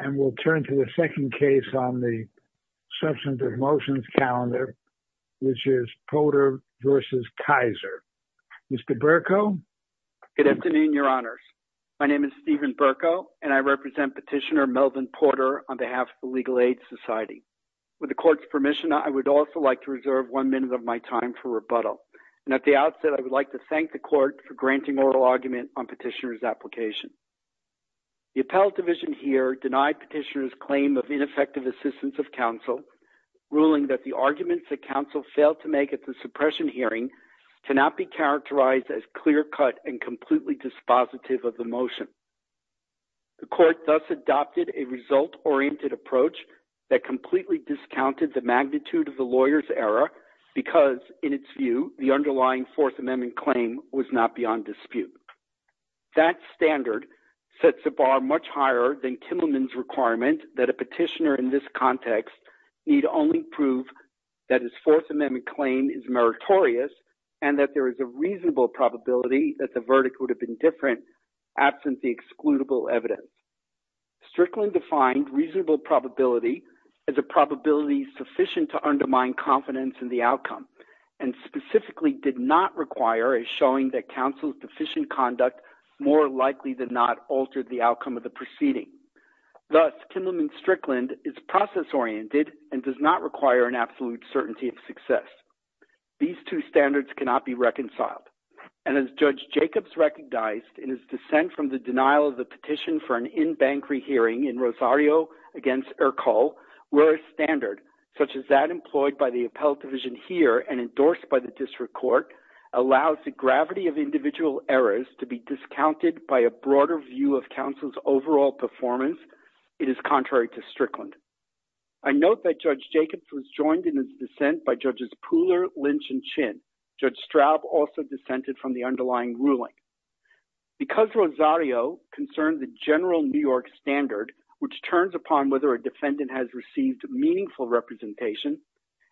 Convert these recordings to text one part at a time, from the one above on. and we'll turn to the second case on the substantive motions calendar, which is Porter v. Keyser. Mr. Berko? Good afternoon, your honors. My name is Stephen Berko, and I represent Petitioner Melvin Porter on behalf of the Legal Aid Society. With the court's permission, I would also like to reserve one minute of my time for rebuttal. And at the outset, I would like to thank the court for granting oral argument on Petitioner's application. The appellate division here denied Petitioner's claim of ineffective assistance of counsel, ruling that the arguments that counsel failed to make at the suppression hearing cannot be characterized as clear-cut and completely dispositive of the motion. The court thus adopted a result-oriented approach that completely discounted the magnitude of the lawyer's error, because, in its view, the underlying Fourth Amendment claim was not beyond dispute. That standard sets a bar much higher than Kimmelman's requirement that a petitioner in this context need only prove that his Fourth Amendment claim is meritorious and that there is a reasonable probability that the verdict would have been different absent the excludable evidence. Strickland defined reasonable probability as a probability sufficient to undermine confidence in the did not require a showing that counsel's deficient conduct more likely than not altered the outcome of the proceeding. Thus, Kimmelman-Strickland is process-oriented and does not require an absolute certainty of success. These two standards cannot be reconciled. And as Judge Jacobs recognized in his dissent from the denial of the petition for an in-bank rehearing in Rosario v. Ercole, where a standard, such as that employed by the appellate division here and endorsed by the district court, allows the gravity of individual errors to be discounted by a broader view of counsel's overall performance, it is contrary to Strickland. I note that Judge Jacobs was joined in his dissent by Judges Pooler, Lynch, and Chinn. Judge Straub also dissented from the underlying ruling. Because Rosario concerns the general New York standard, which turns upon whether a defendant has received meaningful representation,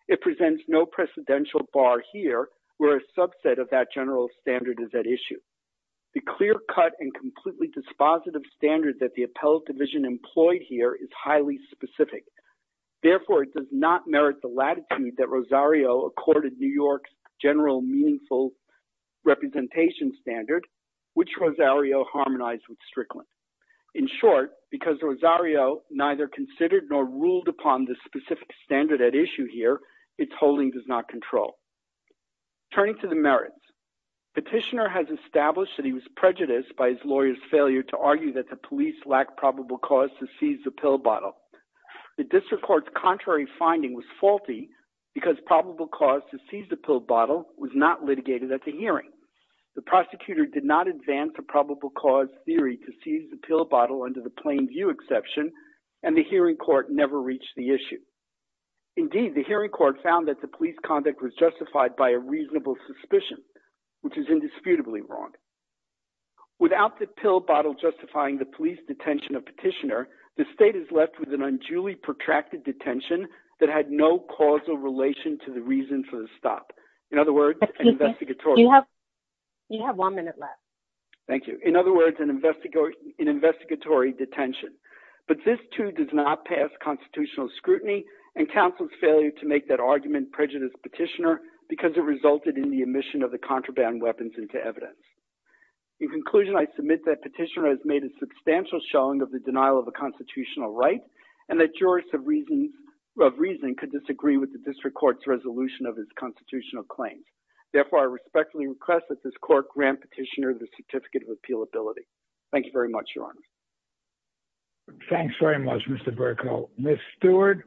it presents no precedential bar here where a subset of that general standard is at issue. The clear-cut and completely dispositive standard that the appellate division employed here is highly specific. Therefore, it does not merit the latitude that Rosario accorded New York's general meaningful representation standard which Rosario harmonized with Strickland. In short, because Rosario neither considered nor ruled upon the specific standard at issue here, its holding does not control. Turning to the merits, petitioner has established that he was prejudiced by his lawyer's failure to argue that the police lack probable cause to seize the pill bottle. The district court's contrary finding was faulty because probable cause to seize the pill bottle was not litigated at the hearing. The prosecutor did not advance the probable cause theory to seize the and the hearing court never reached the issue. Indeed, the hearing court found that the police conduct was justified by a reasonable suspicion, which is indisputably wrong. Without the pill bottle justifying the police detention of petitioner, the state is left with an unduly protracted detention that had no causal relation to the reason for the stop. In other words, you have one minute left. Thank you. In other words, an investigatory detention, but this too does not pass constitutional scrutiny and counsel's failure to make that argument prejudice petitioner because it resulted in the emission of the contraband weapons into evidence. In conclusion, I submit that petitioner has made a substantial showing of the denial of the constitutional right and that jurists of reason could disagree with the district court's constitutional claims. Therefore, I respectfully request that this court grant petitioner the certificate of appeal ability. Thank you very much, Your Honor. Thanks very much, Mr. Burkow. Ms. Stewart.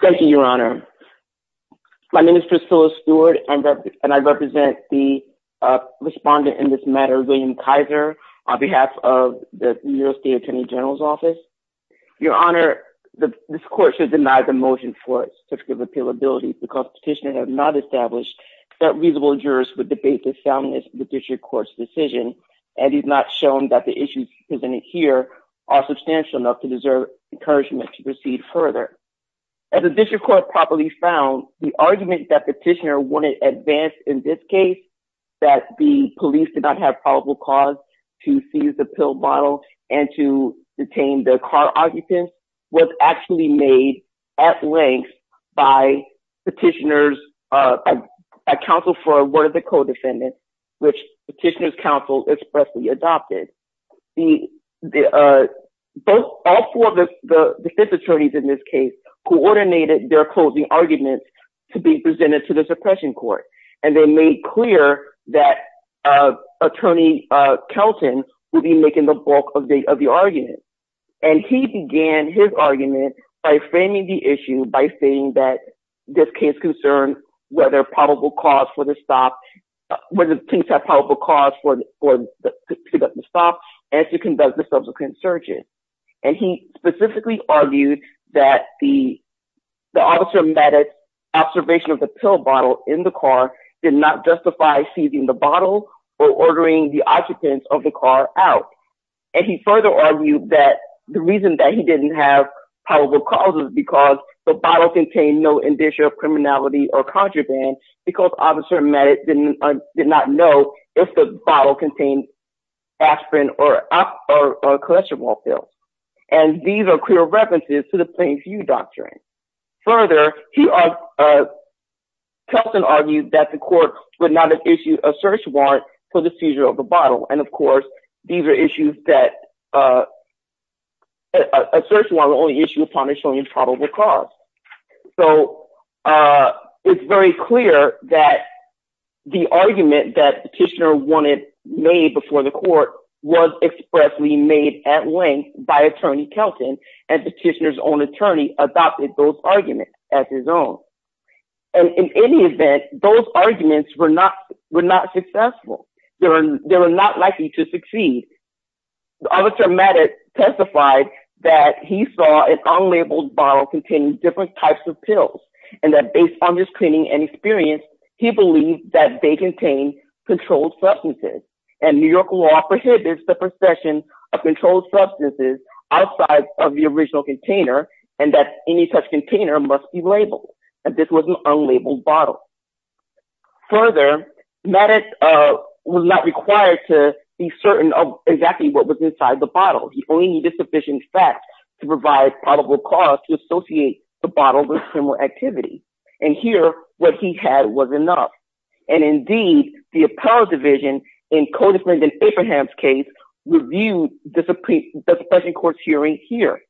Thank you, Your Honor. My name is Priscilla Stewart and I represent the respondent in this matter, William Kaiser, on behalf of the New York State Attorney General's Certificate of Appeal Ability because petitioner has not established that reasonable jurists would debate the soundness of the district court's decision and he's not shown that the issues presented here are substantial enough to deserve encouragement to proceed further. As the district court properly found, the argument that petitioner wouldn't advance in this case, that the police did not have probable cause to seize the pill bottle and to detain the car was actually made at length by petitioner's counsel for a word of the co-defendant, which petitioner's counsel expressly adopted. All four of the fifth attorneys in this case coordinated their closing arguments to be presented to the suppression court and they made it clear that attorney Kelton would be making the bulk of the argument. And he began his argument by framing the issue by saying that this case concerns whether probable cause for the stop, whether things have probable cause for the stop and to convince the subsequent surgeon. And he specifically argued that the officer medics observation of the pill bottle in the car did not justify seizing the bottle or ordering the occupants of the car out. And he further argued that the reason that he didn't have probable cause was because the bottle contained no indicia of criminality or contraband because officer medics did not know if the bottle contained aspirin or cholesterol pills. And these are clear references to the Kelton argued that the court would not issue a search warrant for the seizure of the bottle. And of course, these are issues that a search warrant would only issue upon a showing probable cause. So it's very clear that the argument that petitioner wanted made before the court was expressly made at length by attorney Kelton and petitioner's own attorney adopted those and in any event, those arguments were not successful. They were not likely to succeed. The officer medics testified that he saw an unlabeled bottle containing different types of pills and that based on his training and experience, he believed that they contain controlled substances and New York law prohibits the possession of controlled substances outside of the original container and that any such container must be labeled. And this was an unlabeled bottle. Further, medic was not required to be certain of exactly what was inside the bottle. He only needed sufficient facts to provide probable cause to associate the bottle with criminal activity. And here, what he had was enough. And indeed, the appellate division in Cody's case reviewed the suppression court's hearing here,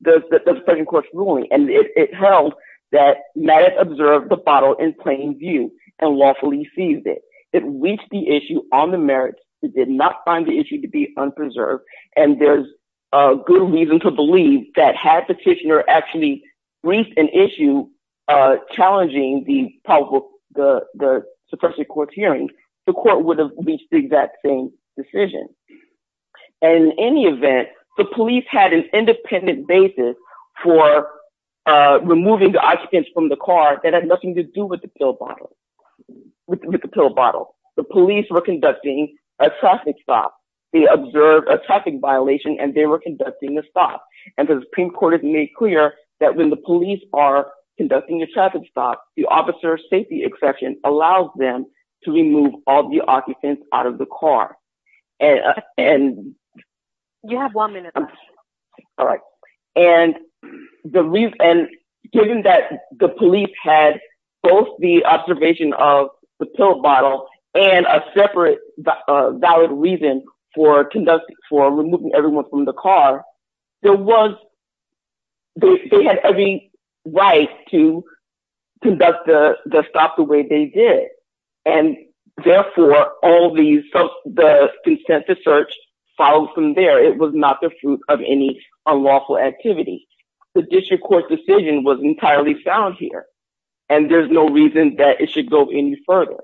the suppression court's ruling, and it held that medics observed the bottle in plain view and lawfully seized it. It reached the issue on the merits. It did not find the issue to be unpreserved. And there's a good reason to believe that had petitioner actually reached an issue challenging the suppression court's hearing, the court would have reached the exact same decision. And in any event, the police had an independent basis for removing the occupants from the car that had nothing to do with the pill bottle. The police were conducting a traffic stop. They observed a traffic violation and they were conducting a stop. And the Supreme Court has made clear that when the police are to remove all the occupants out of the car and you have one minute. All right. And the reason and given that the police had both the observation of the pill bottle and a separate valid reason for conducting for removing everyone from the car, there was they had every right to conduct the stop the way they did. And therefore, all the consent to search follows from there. It was not the fruit of any unlawful activity. The district court's decision was entirely sound here. And there's no reason that it should go any further.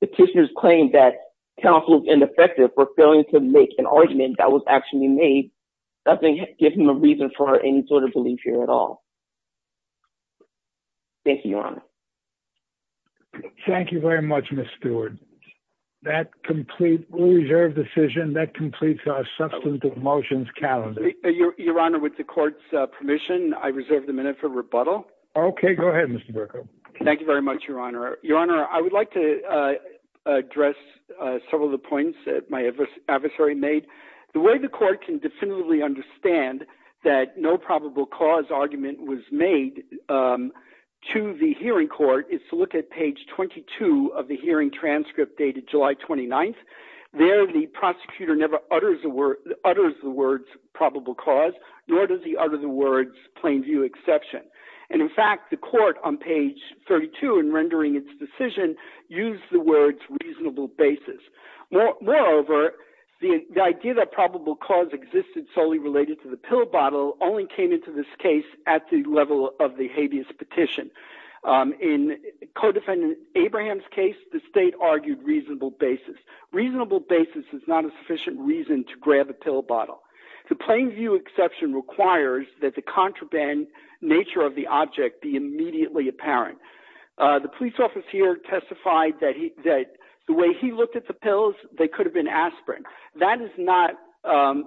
Petitioners claimed that counsels ineffective were failing to make an argument that was actually made. Nothing gives him a reason for any sort of Thank you very much, Mr. Stewart. That complete reserve decision that completes our substantive motions calendar. Your Honor, with the court's permission, I reserve the minute for rebuttal. OK, go ahead, Mr. Berko. Thank you very much, Your Honor. Your Honor, I would like to address several of the points that my adversary made. The way the court can definitively understand that no probable cause argument was made to the hearing court is to look at page 22 of the hearing transcript dated July 29th. There, the prosecutor never utters the words probable cause, nor does he utter the words plain view exception. And in fact, the court on page 32 and rendering its decision used the words reasonable basis. Moreover, the idea that probable cause existed solely related to the pill bottle only came into this case at the level of the habeas petition. In co-defendant Abraham's case, the state argued reasonable basis. Reasonable basis is not a sufficient reason to grab a pill bottle. The plain view exception requires that the contraband nature of the object be immediately apparent. The police officer here testified that he that that is not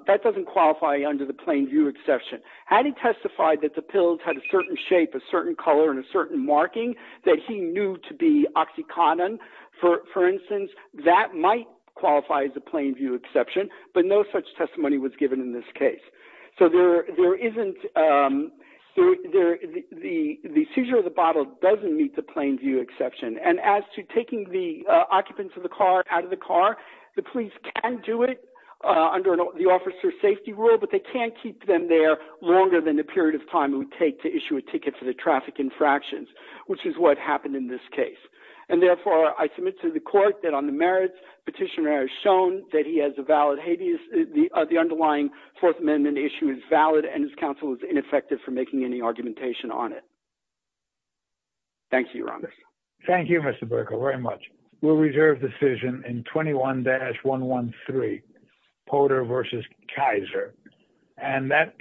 that doesn't qualify under the plain view exception. Had he testified that the pills had a certain shape, a certain color and a certain marking that he knew to be oxycontin, for instance, that might qualify as a plain view exception. But no such testimony was given in this case. So there there isn't there. The seizure of the bottle doesn't meet the plain view exception. And as to taking the occupants of the car out of the car, the police can do it under the officer safety rule, but they can't keep them there longer than the period of time it would take to issue a ticket for the traffic infractions, which is what happened in this case. And therefore, I submit to the court that on the merits petitioner has shown that he has a valid habeas. The underlying Fourth Amendment issue is valid and his counsel is ineffective for making any argumentation on it. Thank you, Rhonda. Thank you, Mr. Berko. Very much. We'll reserve decision in 21 dash 113 Porter versus Kaiser. And that